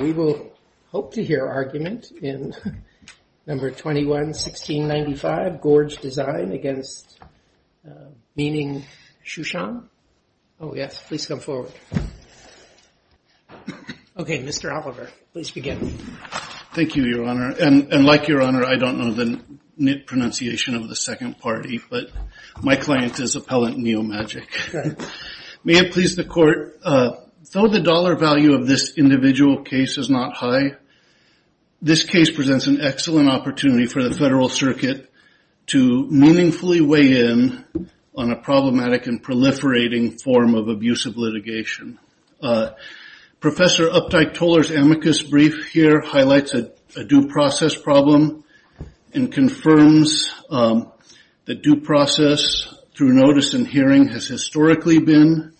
We will hope to hear argument in number 21-1695, Gorge Design against Meaning Xuansheng. Oh yes, please come forward. Okay, Mr. Oliver, please begin. Thank you, Your Honor. And like Your Honor, I don't know the knit pronunciation of the second party, but my client is appellant neomagic. May it please the Court, though the dollar value of this individual case is not high, this case presents an excellent opportunity for the Federal Circuit to meaningfully weigh in on a problematic and proliferating form of abusive litigation. Professor Uptight Toler's amicus brief here highlights a due process problem and confirms that due process through notice and hearing has historically been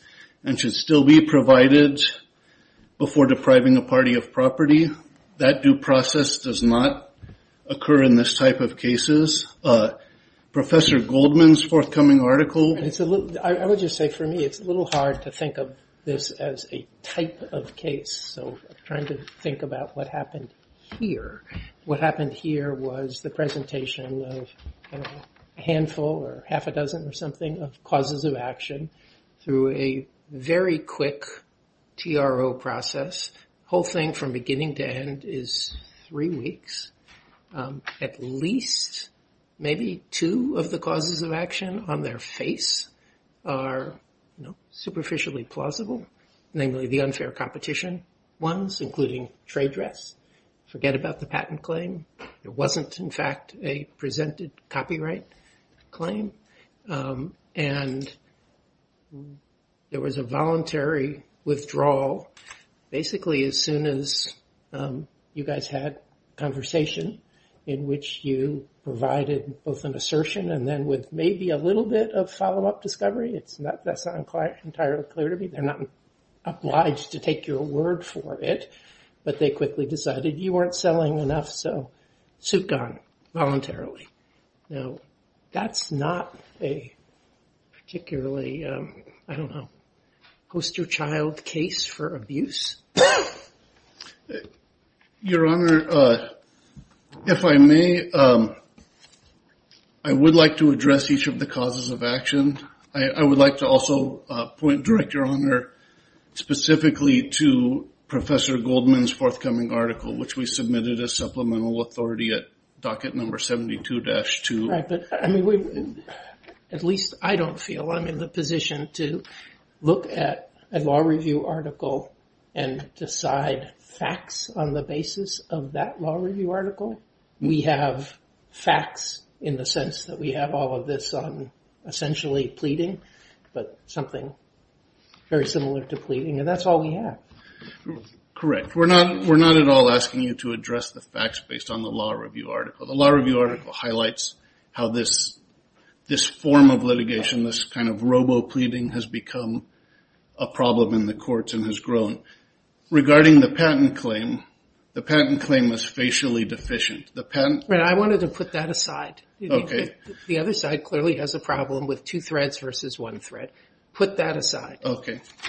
and should still be provided before depriving a party of property. That due process does not occur in this type of cases. Professor Goldman's forthcoming article. I would just say for me it's a little hard to think of this as a type of case, so I'm trying to think about what happened here. What happened here was the presentation of a handful or half a dozen or something of causes of action through a very quick TRO process. The whole thing from beginning to end is three weeks. At least maybe two of the causes of action on their face are superficially plausible. Namely, the unfair competition ones, including trade dress. Forget about the patent claim. It wasn't, in fact, a presented copyright claim. And there was a voluntary withdrawal basically as soon as you guys had conversation in which you provided both an assertion and then with maybe a little bit of follow-up discovery. That's not entirely clear to me. They're not obliged to take your word for it. But they quickly decided you weren't selling enough, so suit gone voluntarily. That's not a particularly, I don't know, poster child case for abuse. Your Honor, if I may, I would like to address each of the causes of action. I would like to also point, direct, Your Honor, specifically to Professor Goldman's forthcoming article, which we submitted as supplemental authority at docket number 72-2. All right, but at least I don't feel I'm in the position to look at a law review article and decide facts on the basis of that law review article. We have facts in the sense that we have all of this on essentially pleading, but something very similar to pleading. And that's all we have. Correct. We're not at all asking you to address the facts based on the law review article. The law review article highlights how this form of litigation, this kind of robo-pleading has become a problem in the courts and has grown. Regarding the patent claim, the patent claim was facially deficient. Right, I wanted to put that aside. The other side clearly has a problem with two threads versus one thread. Put that aside.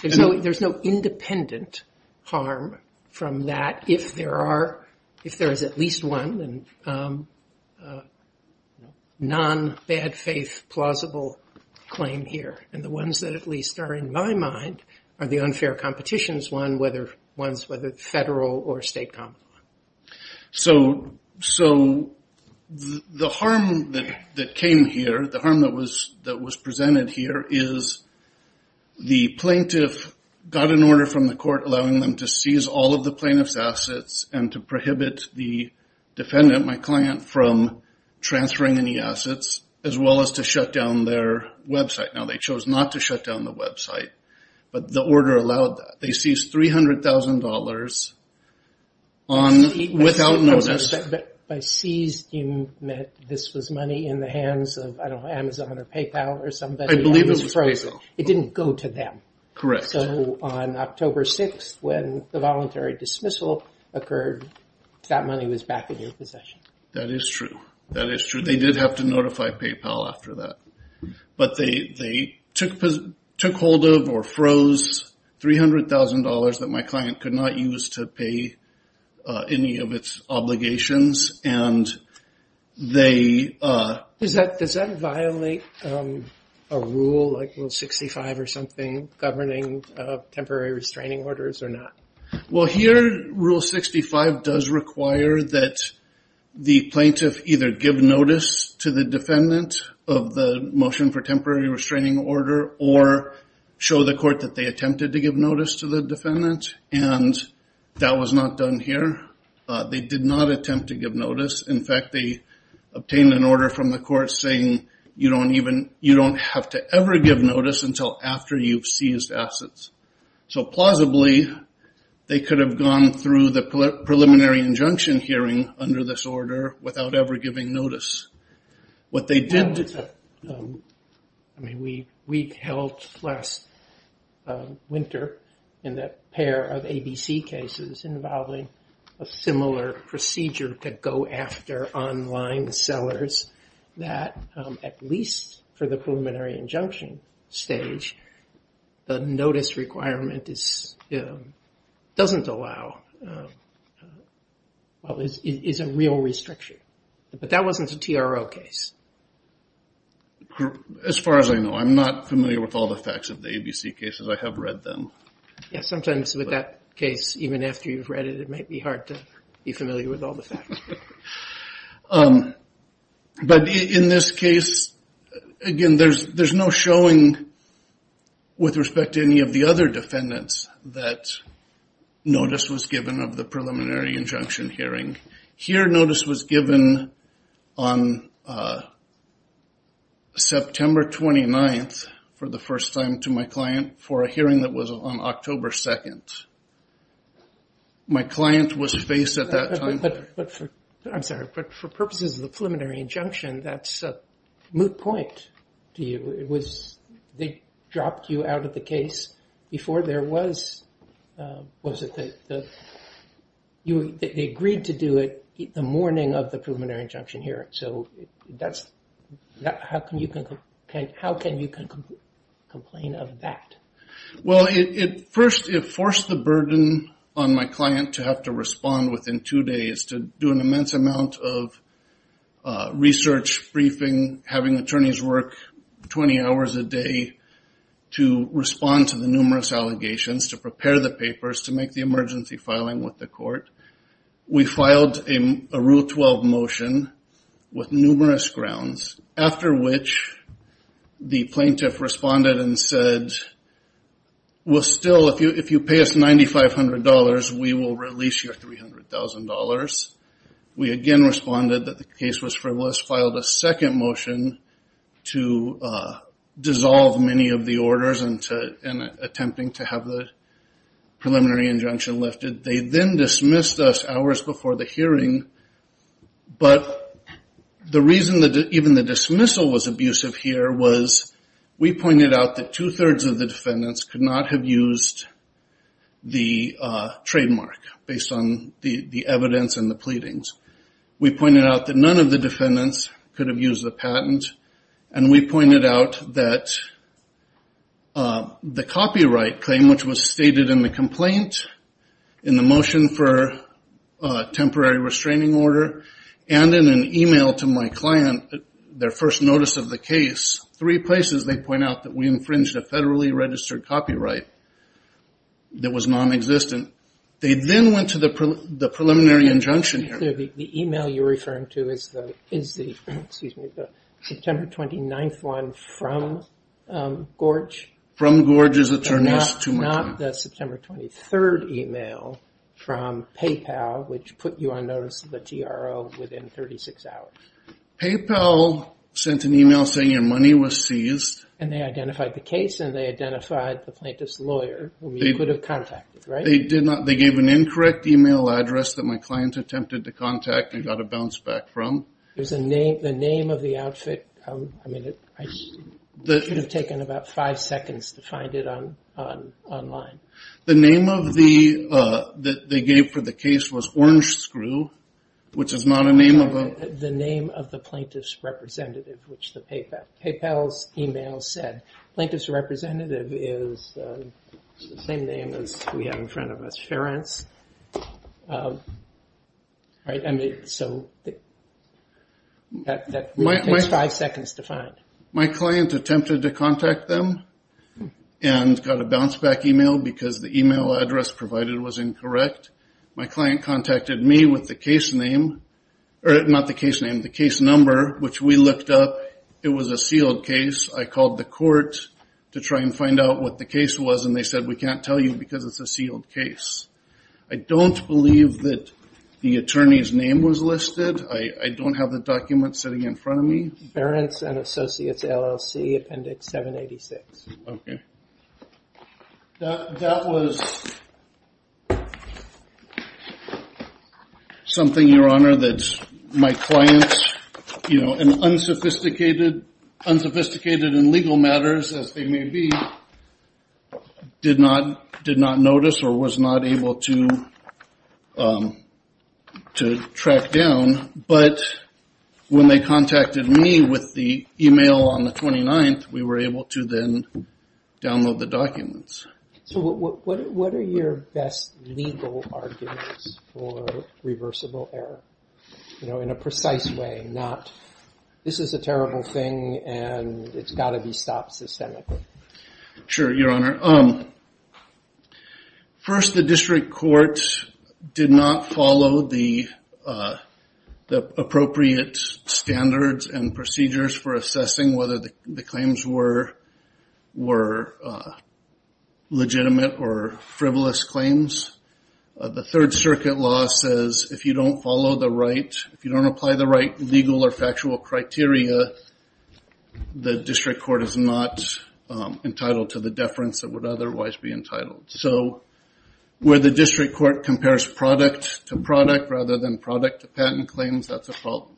There's no independent harm from that if there is at least one non-bad faith plausible claim here. And the ones that at least are in my mind are the unfair competitions ones, whether federal or state common law. So the harm that came here, the harm that was presented here is the plaintiff got an order from the court allowing them to seize all of the plaintiff's assets and to prohibit the defendant, my client, from transferring any assets as well as to shut down their website. Now they chose not to shut down the website, but the order allowed that. They seized $300,000 without notice. By seized you meant this was money in the hands of, I don't know, Amazon or PayPal or somebody. I believe it was PayPal. It didn't go to them. Correct. So on October 6th when the voluntary dismissal occurred, that money was back in your possession. That is true. That is true. They did have to notify PayPal after that. But they took hold of or froze $300,000 that my client could not use to pay any of its obligations. Does that violate a rule like Rule 65 or something governing temporary restraining orders or not? Well, here Rule 65 does require that the plaintiff either give notice to the defendant of the motion for temporary restraining order or show the court that they attempted to give notice to the defendant, and that was not done here. They did not attempt to give notice. In fact, they obtained an order from the court saying you don't have to ever give notice until after you've seized assets. So plausibly, they could have gone through the preliminary injunction hearing under this order without ever giving notice. What they did, I mean, we held last winter in that pair of ABC cases involving a similar procedure to go after online sellers that at least for the preliminary injunction stage, the notice requirement doesn't allow, is a real restriction. But that wasn't a TRO case. As far as I know, I'm not familiar with all the facts of the ABC cases. I have read them. Yes, sometimes with that case, even after you've read it, it might be hard to be familiar with all the facts. But in this case, again, there's no showing with respect to any of the other defendants that notice was given of the preliminary injunction hearing. Here, notice was given on September 29th for the first time to my client for a hearing that was on October 2nd. My client was faced at that time. But for purposes of the preliminary injunction, that's a moot point to you. They dropped you out of the case before there was a thing. They agreed to do it the morning of the preliminary injunction hearing. So how can you complain of that? Well, first, it forced the burden on my client to have to respond within two days to do an immense amount of research briefing, having attorneys work 20 hours a day to respond to the numerous allegations, to prepare the papers, to make the emergency filing with the court. We filed a Rule 12 motion with numerous grounds, after which the plaintiff responded and said, Well, still, if you pay us $9,500, we will release your $300,000. We again responded that the case was frivolous, filed a second motion to dissolve many of the orders and attempting to have the preliminary injunction lifted. They then dismissed us hours before the hearing. But the reason that even the dismissal was abusive here was we pointed out that two-thirds of the defendants could not have used the trademark based on the evidence and the pleadings. We pointed out that none of the defendants could have used the patent. And we pointed out that the copyright claim, which was stated in the complaint, in the motion for temporary restraining order, and in an email to my client, their first notice of the case, three places they point out that we infringed a federally registered copyright that was nonexistent. They then went to the preliminary injunction hearing. The email you're referring to is the September 29th one from Gorge? From Gorge's attorneys. Not the September 23rd email from PayPal, which put you on notice of the TRO within 36 hours. PayPal sent an email saying your money was seized. And they identified the case and they identified the plaintiff's lawyer, who you could have contacted, right? They gave an incorrect email address that my client attempted to contact and got a bounce back from. The name of the outfit, I mean, it could have taken about five seconds to find it online. The name that they gave for the case was Orange Screw, which is not a name of a- The name of the plaintiff's representative, which PayPal's email said. Plaintiff's representative is the same name as we have in front of us, Ference. Right? That really takes five seconds to find. My client attempted to contact them and got a bounce back email because the email address provided was incorrect. My client contacted me with the case name, or not the case name, the case number, which we looked up. It was a sealed case. I called the court to try and find out what the case was, and they said, we can't tell you because it's a sealed case. I don't believe that the attorney's name was listed. I don't have the document sitting in front of me. Ference and Associates, LLC, Appendix 786. Okay. That was something, Your Honor, that my clients, unsophisticated in legal matters as they may be, did not notice or was not able to track down. When they contacted me with the email on the 29th, we were able to then download the documents. What are your best legal arguments for reversible error in a precise way? This is a terrible thing, and it's got to be stopped systemically. Sure, Your Honor. First, the district court did not follow the appropriate standards and procedures for assessing whether the claims were legitimate or frivolous claims. The Third Circuit law says if you don't follow the right, if you don't apply the right legal or factual criteria, the district court is not entitled to the deference that would otherwise be entitled. Where the district court compares product to product rather than product to patent claims, that's a problem.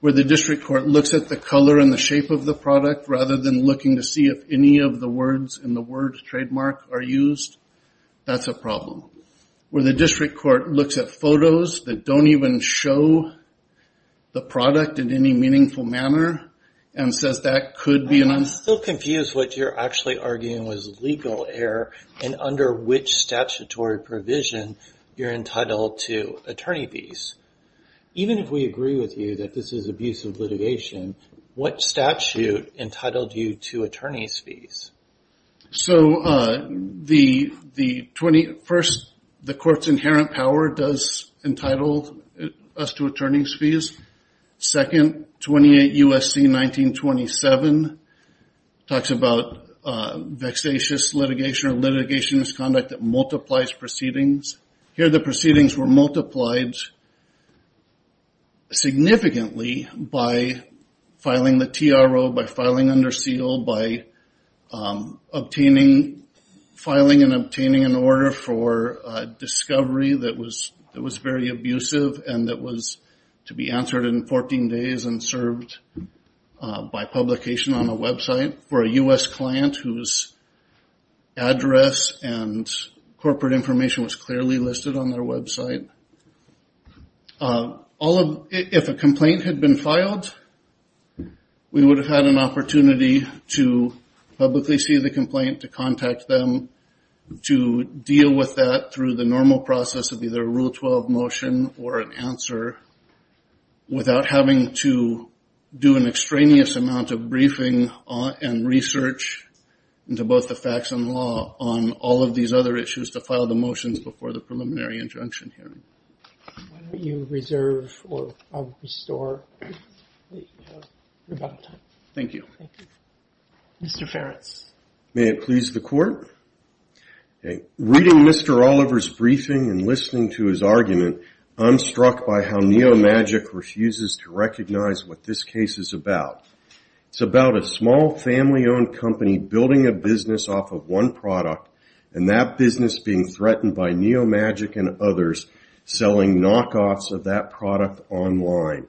Where the district court looks at the color and the shape of the product rather than looking to see if any of the words in the word trademark are used, that's a problem. Where the district court looks at photos that don't even show the product in any meaningful manner and says that could be an un… I'm still confused what you're actually arguing was legal error and under which statutory provision you're entitled to attorney fees. Even if we agree with you that this is abusive litigation, what statute entitled you to attorney's fees? So, the 20… First, the court's inherent power does entitle us to attorney's fees. Second, 28 U.S.C. 1927 talks about vexatious litigation or litigation as conduct that multiplies proceedings. Here, the proceedings were multiplied significantly by filing the TRO, by filing under seal, by obtaining… Filing and obtaining an order for discovery that was very abusive and that was to be answered in 14 days and served by publication on a website for a U.S. client whose address and corporate information was clearly listed on their website. If a complaint had been filed, we would have had an opportunity to publicly see the complaint, to contact them, to deal with that through the normal process of either a Rule 12 motion or an answer without having to do an extraneous amount of briefing and research into both the facts and law on all of these other issues to file the motions before the preliminary injunction hearing. Why don't you reserve or restore the rebuttal time? Thank you. Thank you. May it please the court? Reading Mr. Oliver's briefing and listening to his argument, I'm struck by how Neomagic refuses to recognize what this case is about. It's about a small family-owned company building a business off of one product and that business being threatened by Neomagic and others selling knockoffs of that product online.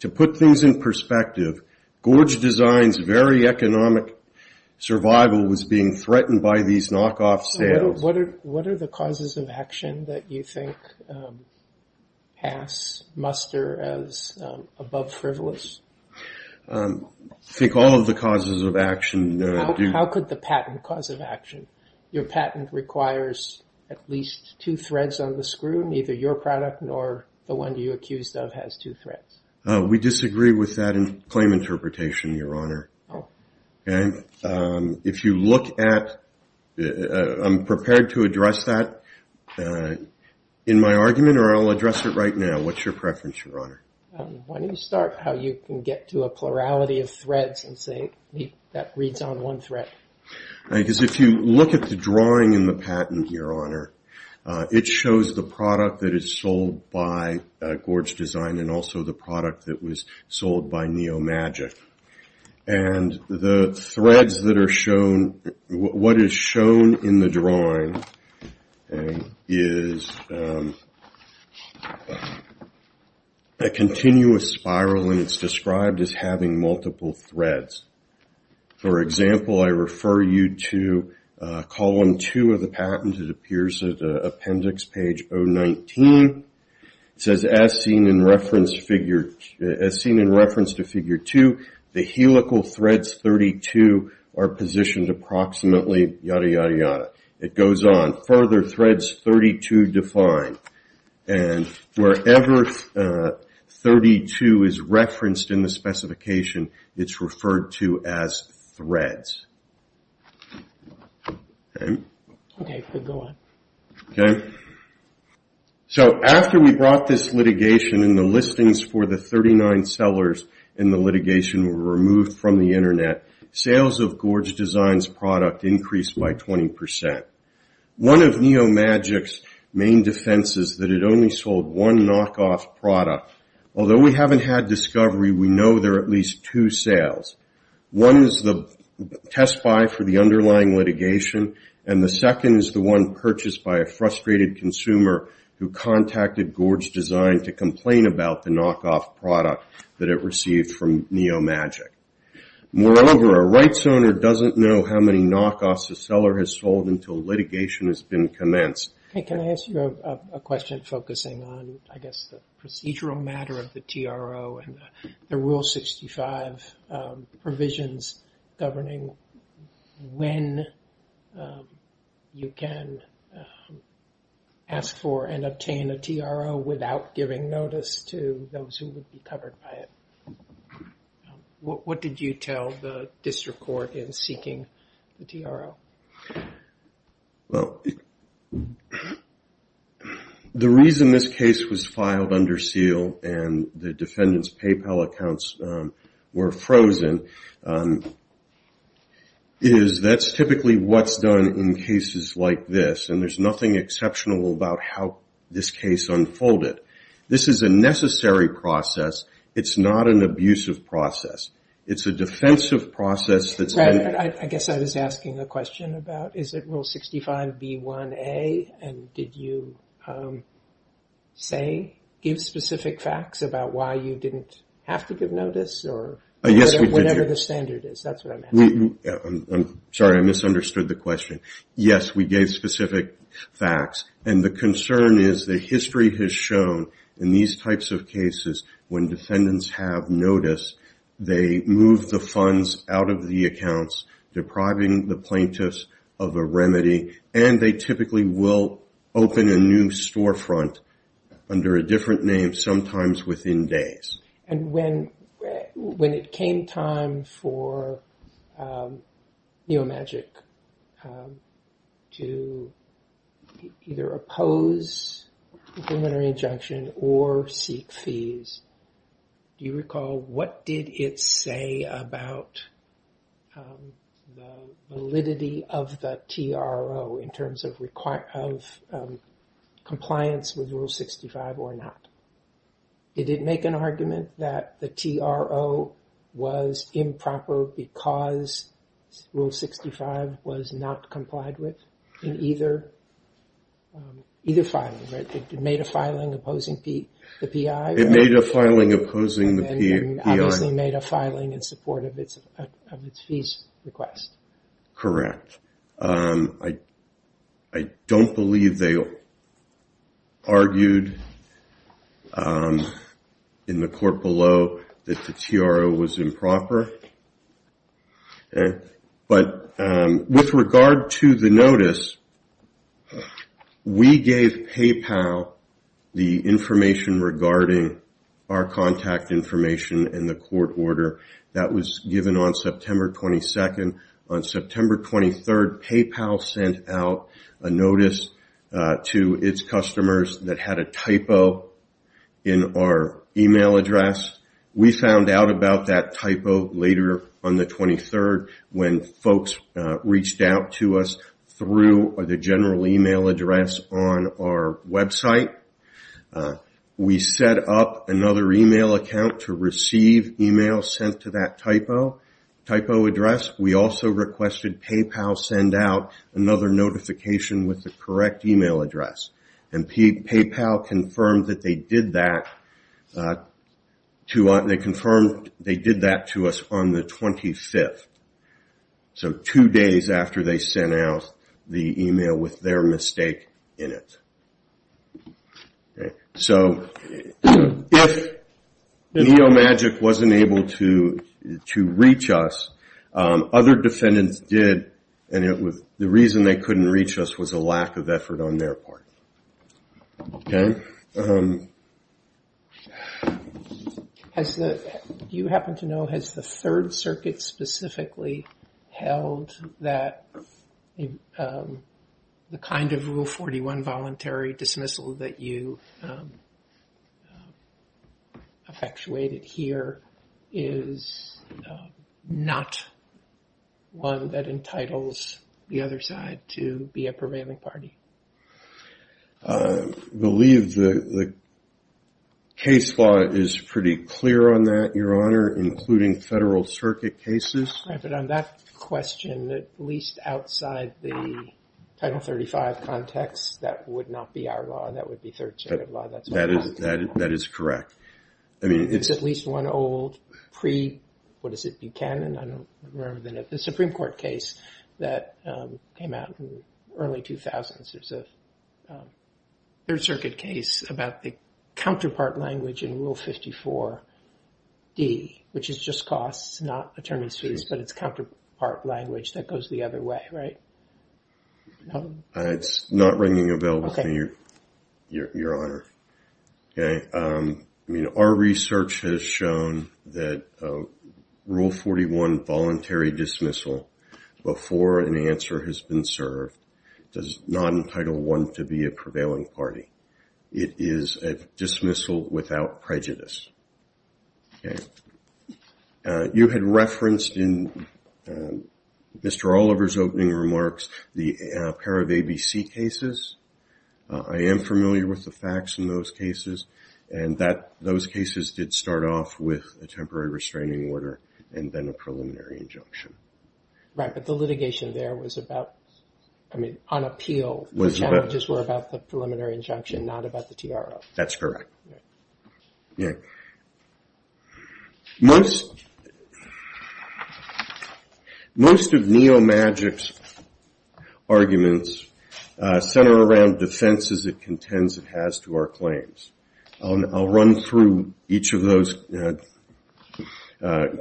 To put things in perspective, Gorge Design's very economic survival was being threatened by these knockoff sales. What are the causes of action that you think pass, muster as above frivolous? I think all of the causes of action do. How could the patent cause of action? Your patent requires at least two threads on the screw. Neither your product nor the one you accused of has two threads. We disagree with that claim interpretation, Your Honor. If you look at, I'm prepared to address that in my argument or I'll address it right now. What's your preference, Your Honor? Why don't you start how you can get to a plurality of threads and say that reads on one thread. Because if you look at the drawing in the patent, Your Honor, it shows the product that is sold by Gorge Design and also the product that was sold by Neomagic. And the threads that are shown, what is shown in the drawing is a continuous spiral and it's described as having multiple threads. For example, I refer you to column two of the patent. It appears at appendix page 019. It says, as seen in reference to figure two, the helical threads 32 are positioned approximately yada, yada, yada. It goes on. Further, threads 32 define. And wherever 32 is referenced in the specification, it's referred to as threads. Okay? Okay, go on. Okay. So after we brought this litigation and the listings for the 39 sellers in the litigation were removed from the Internet, sales of Gorge Design's product increased by 20%. One of Neomagic's main defense is that it only sold one knockoff product. Although we haven't had discovery, we know there are at least two sales. One is the test buy for the underlying litigation, and the second is the one purchased by a frustrated consumer who contacted Gorge Design to complain about the knockoff product that it received from Neomagic. Moreover, a rights owner doesn't know how many knockoffs a seller has sold until litigation has been commenced. Hey, can I ask you a question focusing on, I guess, the procedural matter of the TRO and the Rule 65 provisions governing when you can ask for and obtain a TRO without giving notice to those who would be covered by it? What did you tell the district court in seeking the TRO? Well, the reason this case was filed under seal and the defendant's PayPal accounts were frozen is that's typically what's done in cases like this, and there's nothing exceptional about how this case unfolded. This is a necessary process. It's not an abusive process. It's a defensive process. Brad, I guess I was asking a question about, is it Rule 65B1A, and did you give specific facts about why you didn't have to give notice or whatever the standard is? Yes, we did. That's what I meant. I'm sorry. I misunderstood the question. Yes, we gave specific facts, and the concern is that history has shown in these types of cases when defendants have notice, they move the funds out of the accounts, depriving the plaintiffs of a remedy, and they typically will open a new storefront under a different name, sometimes within days. When it came time for Neomagic to either oppose a preliminary injunction or seek fees, do you recall what did it say about the validity of the TRO in terms of compliance with Rule 65 or not? Did it make an argument that the TRO was improper because Rule 65 was not complied with in either filing? It made a filing opposing the PI? It made a filing opposing the PI. And obviously made a filing in support of its fees request. Correct. I don't believe they argued in the court below that the TRO was improper, but with regard to the notice, we gave PayPal the information regarding our contact information and the court order that was given on September 22nd. On September 23rd, PayPal sent out a notice to its customers that had a typo in our email address. We found out about that typo later on the 23rd when folks reached out to us through the general email address on our website. We set up another email account to receive emails sent to that typo address. We also requested PayPal send out another notification with the correct email address, and PayPal confirmed that they did that to us on the 25th, so two days after they sent out the email with their mistake in it. So if NeoMagic wasn't able to reach us, other defendants did, and the reason they couldn't reach us was a lack of effort on their part. Okay. Do you happen to know, has the Third Circuit specifically held that the kind of Rule 41 voluntary dismissal that you effectuated here is not one that entitles the other side to be a prevailing party? I believe the case law is pretty clear on that, Your Honor, including Federal Circuit cases. Right, but on that question, at least outside the Title 35 context, that would not be our law. That would be Third Circuit law. That is correct. There's at least one old pre, what is it, Buchanan? I don't remember the name. The Supreme Court case that came out in the early 2000s, there's a Third Circuit case about the counterpart language in Rule 54D, which is just costs, not attorneys' fees, but it's counterpart language that goes the other way, right? It's not ringing a bell for you, Your Honor. Okay. I mean, our research has shown that Rule 41 voluntary dismissal before an answer has been served does not entitle one to be a prevailing party. It is a dismissal without prejudice. Okay. You had referenced in Mr. Oliver's opening remarks the pair of ABC cases. I am familiar with the facts in those cases, and those cases did start off with a temporary restraining order and then a preliminary injunction. Right, but the litigation there was about, I mean, on appeal, the challenges were about the preliminary injunction, not about the TRO. That's correct. Okay. Most of Neomagic's arguments center around defenses it contends it has to our claims. I'll run through each of those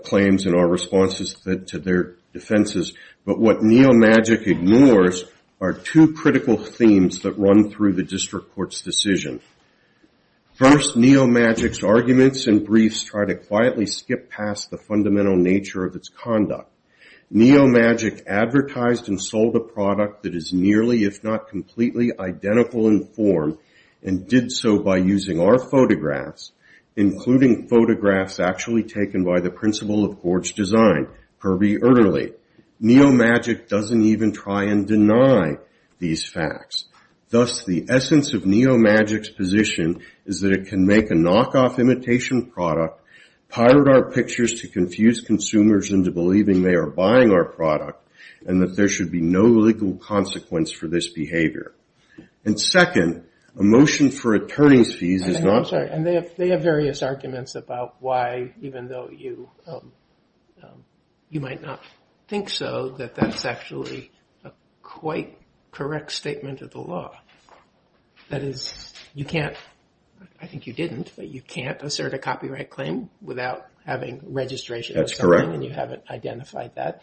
claims and our responses to their defenses, but what Neomagic ignores are two critical themes that run through the district court's decision. First, Neomagic's arguments and briefs try to quietly skip past the fundamental nature of its conduct. Neomagic advertised and sold a product that is nearly if not completely identical in form and did so by using our photographs, including photographs actually taken by the principal of Gorge Design, Kirby Erderly. Neomagic doesn't even try and deny these facts. Thus, the essence of Neomagic's position is that it can make a knockoff imitation product, pirate our pictures to confuse consumers into believing they are buying our product, and that there should be no legal consequence for this behavior. And second, a motion for attorney's fees is not- I'm sorry, and they have various arguments about why, even though you might not think so, that that's actually a quite correct statement of the law. That is, you can't, I think you didn't, but you can't assert a copyright claim without having registration. That's correct. And you haven't identified that.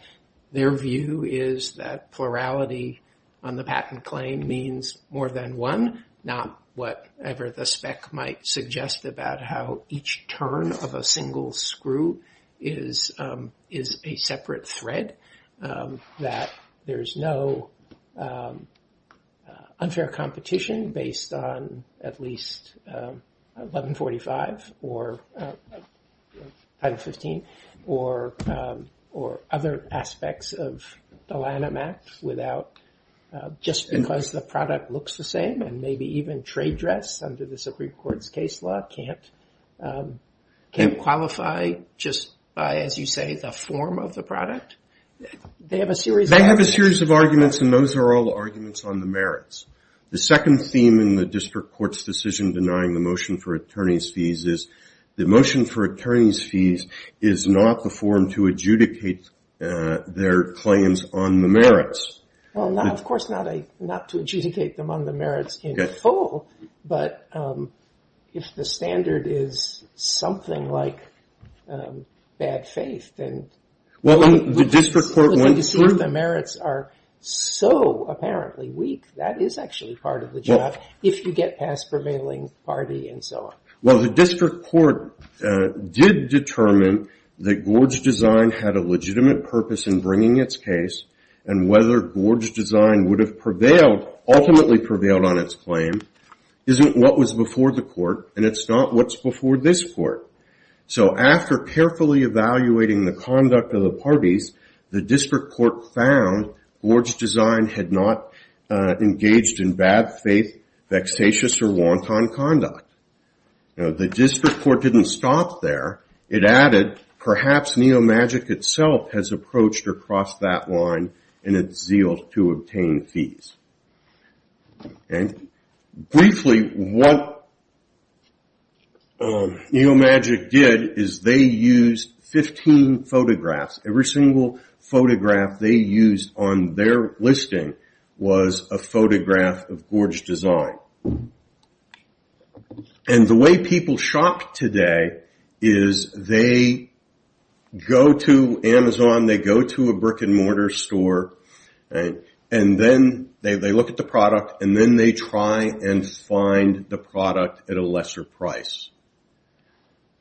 Their view is that plurality on the patent claim means more than one, not whatever the spec might suggest about how each turn of a single screw is a separate thread, that there's no unfair competition based on at least 1145 or Title 15 or other aspects of the line of math without, just because the product looks the same and maybe even trade dress under the Supreme Court's case law, can't qualify just by, as you say, the form of the product. They have a series of- They have a series of arguments, and those are all arguments on the merits. The second theme in the district court's decision denying the motion for attorney's fees is the motion for attorney's fees is not the form to adjudicate their claims on the merits. Well, of course, not to adjudicate them on the merits in full, but if the standard is something like bad faith, then- Well, the district court- The merits are so apparently weak, that is actually part of the job, if you get past prevailing party and so on. Well, the district court did determine that Gorge Design had a legitimate purpose in bringing its case and whether Gorge Design would have prevailed, ultimately prevailed on its claim, isn't what was before the court, and it's not what's before this court. So after carefully evaluating the conduct of the parties, the district court found Gorge Design had not engaged in bad faith, vexatious, or wanton conduct. The district court didn't stop there. It added, perhaps Neomagic itself has approached or crossed that line in its zeal to obtain fees. Briefly, what Neomagic did is they used 15 photographs. Every single photograph they used on their listing was a photograph of Gorge Design. And the way people shop today is they go to Amazon, they go to a brick-and-mortar store, and then they look at the product, and then they try and find the product at a lesser price.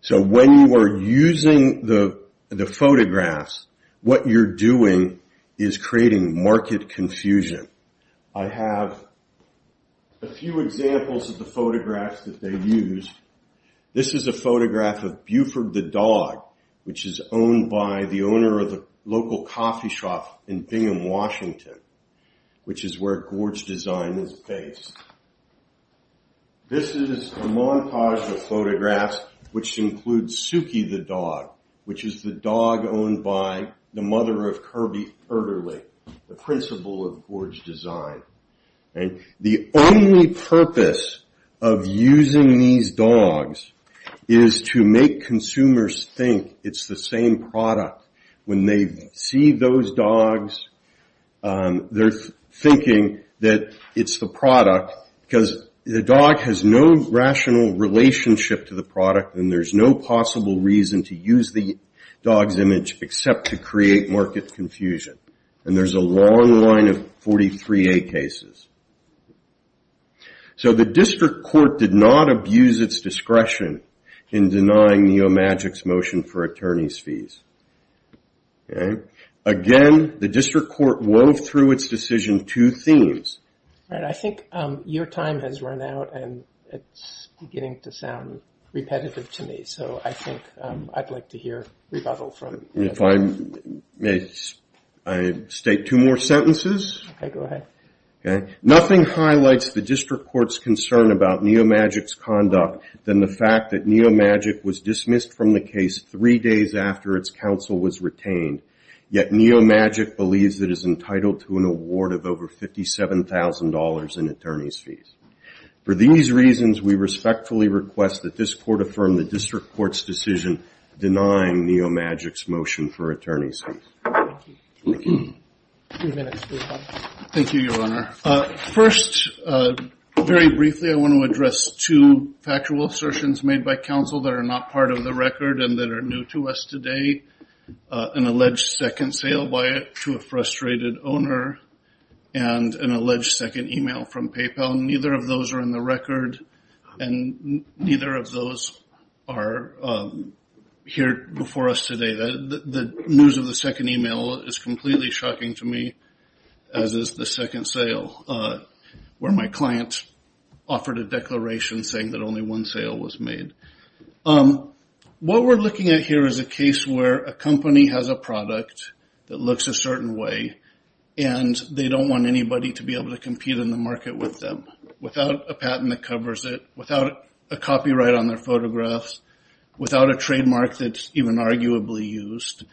So when you are using the photographs, what you're doing is creating market confusion. I have a few examples of the photographs that they used. This is a photograph of Buford the Dog, which is owned by the owner of the local coffee shop in Bingham, Washington, which is where Gorge Design is based. This is a montage of photographs which includes Suki the Dog, which is the dog owned by the mother of Kirby Erderly, the principal of Gorge Design. And the only purpose of using these dogs is to make consumers think it's the same product. When they see those dogs, they're thinking that it's the product, because the dog has no rational relationship to the product, and there's no possible reason to use the dog's image except to create market confusion. And there's a long line of 43A cases. So the district court did not abuse its discretion in denying Neomagic's motion for attorney's fees. Again, the district court wove through its decision two themes. All right, I think your time has run out, and it's beginning to sound repetitive to me. So I think I'd like to hear rebuttal from you. If I may state two more sentences? Okay, go ahead. Nothing highlights the district court's concern about Neomagic's conduct than the fact that Neomagic was dismissed from the case three days after its counsel was retained. Yet Neomagic believes it is entitled to an award of over $57,000 in attorney's fees. For these reasons, we respectfully request that this court affirm the district court's decision denying Neomagic's motion for attorney's fees. Thank you. Thank you, Your Honor. First, very briefly, I want to address two factual assertions made by counsel that are not part of the record and that are new to us today, an alleged second sale by a frustrated owner and an alleged second email from PayPal. Neither of those are in the record, and neither of those are here before us today. The news of the second email is completely shocking to me, as is the second sale, where my client offered a declaration saying that only one sale was made. What we're looking at here is a case where a company has a product that looks a certain way, and they don't want anybody to be able to compete in the market with them without a patent that covers it, without a copyright on their photographs, without a trademark that's even arguably used.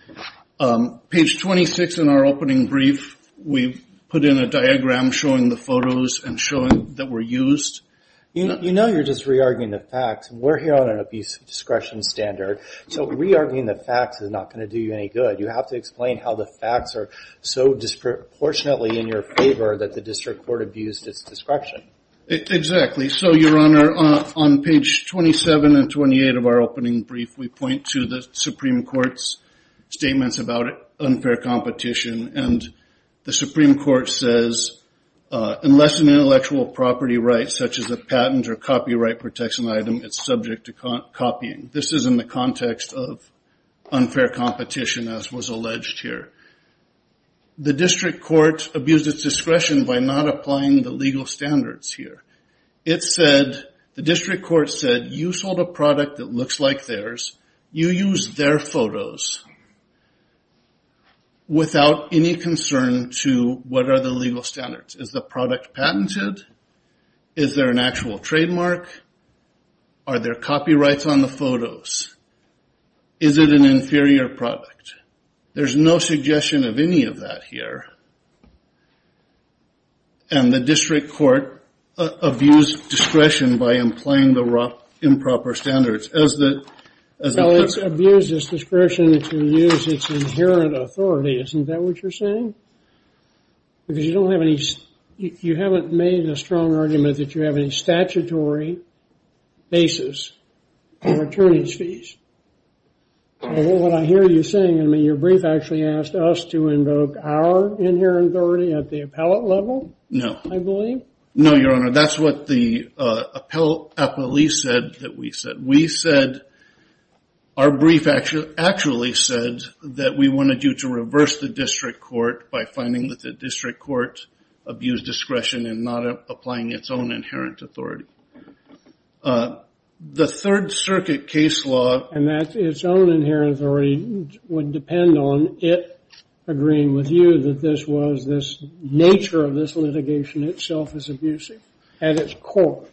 Page 26 in our opening brief, we put in a diagram showing the photos that were used. You know you're just re-arguing the facts. We're here on an abuse of discretion standard, so re-arguing the facts is not going to do you any good. You have to explain how the facts are so disproportionately in your favor that the district court abused its discretion. Exactly. So, Your Honor, on page 27 and 28 of our opening brief, we point to the Supreme Court's statements about unfair competition, and the Supreme Court says, unless an intellectual property rights such as a patent or copyright protects an item, it's subject to copying. This is in the context of unfair competition, as was alleged here. The district court abused its discretion by not applying the legal standards here. The district court said, you sold a product that looks like theirs. You use their photos without any concern to what are the legal standards. Is the product patented? Is there an actual trademark? Are there copyrights on the photos? Is it an inferior product? There's no suggestion of any of that here. And the district court abused discretion by implying the improper standards. Well, it's abused its discretion to use its inherent authority. Isn't that what you're saying? Because you haven't made a strong argument that you have any statutory basis for attorney's fees. What I hear you saying, I mean, your brief actually asked us to invoke our inherent authority at the appellate level, I believe? No, Your Honor. That's what the appellee said that we said. Our brief actually said that we wanted you to reverse the district court by finding that the district court abused discretion and not applying its own inherent authority. The Third Circuit case law... And that its own inherent authority would depend on it agreeing with you that this was this nature of this litigation itself is abusive at its core.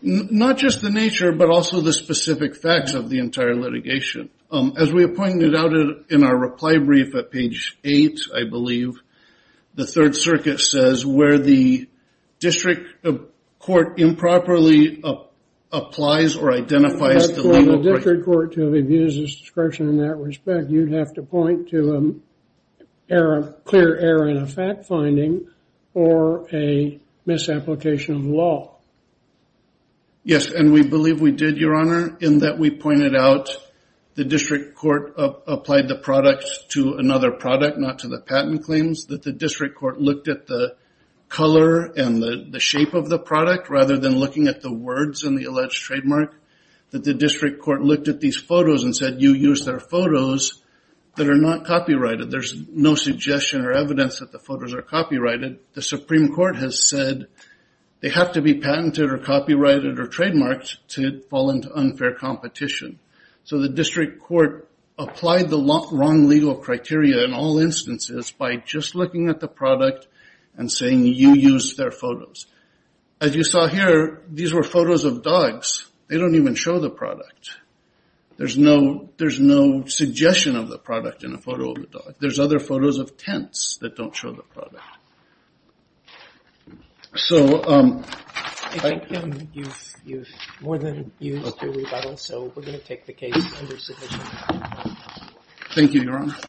Not just the nature, but also the specific facts of the entire litigation. As we have pointed out in our reply brief at page 8, I believe, the Third Circuit says where the district court improperly applies or identifies the legal... For the district court to have abused its discretion in that respect, you'd have to point to a clear error in a fact finding or a misapplication of the law. Yes, and we believe we did, Your Honor, in that we pointed out the district court applied the product to another product, not to the patent claims, that the district court looked at the color and the shape of the product rather than looking at the words in the alleged trademark, that the district court looked at these photos and said, you used our photos that are not copyrighted. There's no suggestion or evidence that the photos are copyrighted. The Supreme Court has said they have to be patented or copyrighted or trademarked to fall into unfair competition. So the district court applied the wrong legal criteria in all instances by just looking at the product and saying you used their photos. As you saw here, these were photos of dogs. They don't even show the product. There's no suggestion of the product in a photo of a dog. There's other photos of tents that don't show the product. I think you've more than used your rebuttal, so we're going to take the case under submission. Thank you, Your Honor.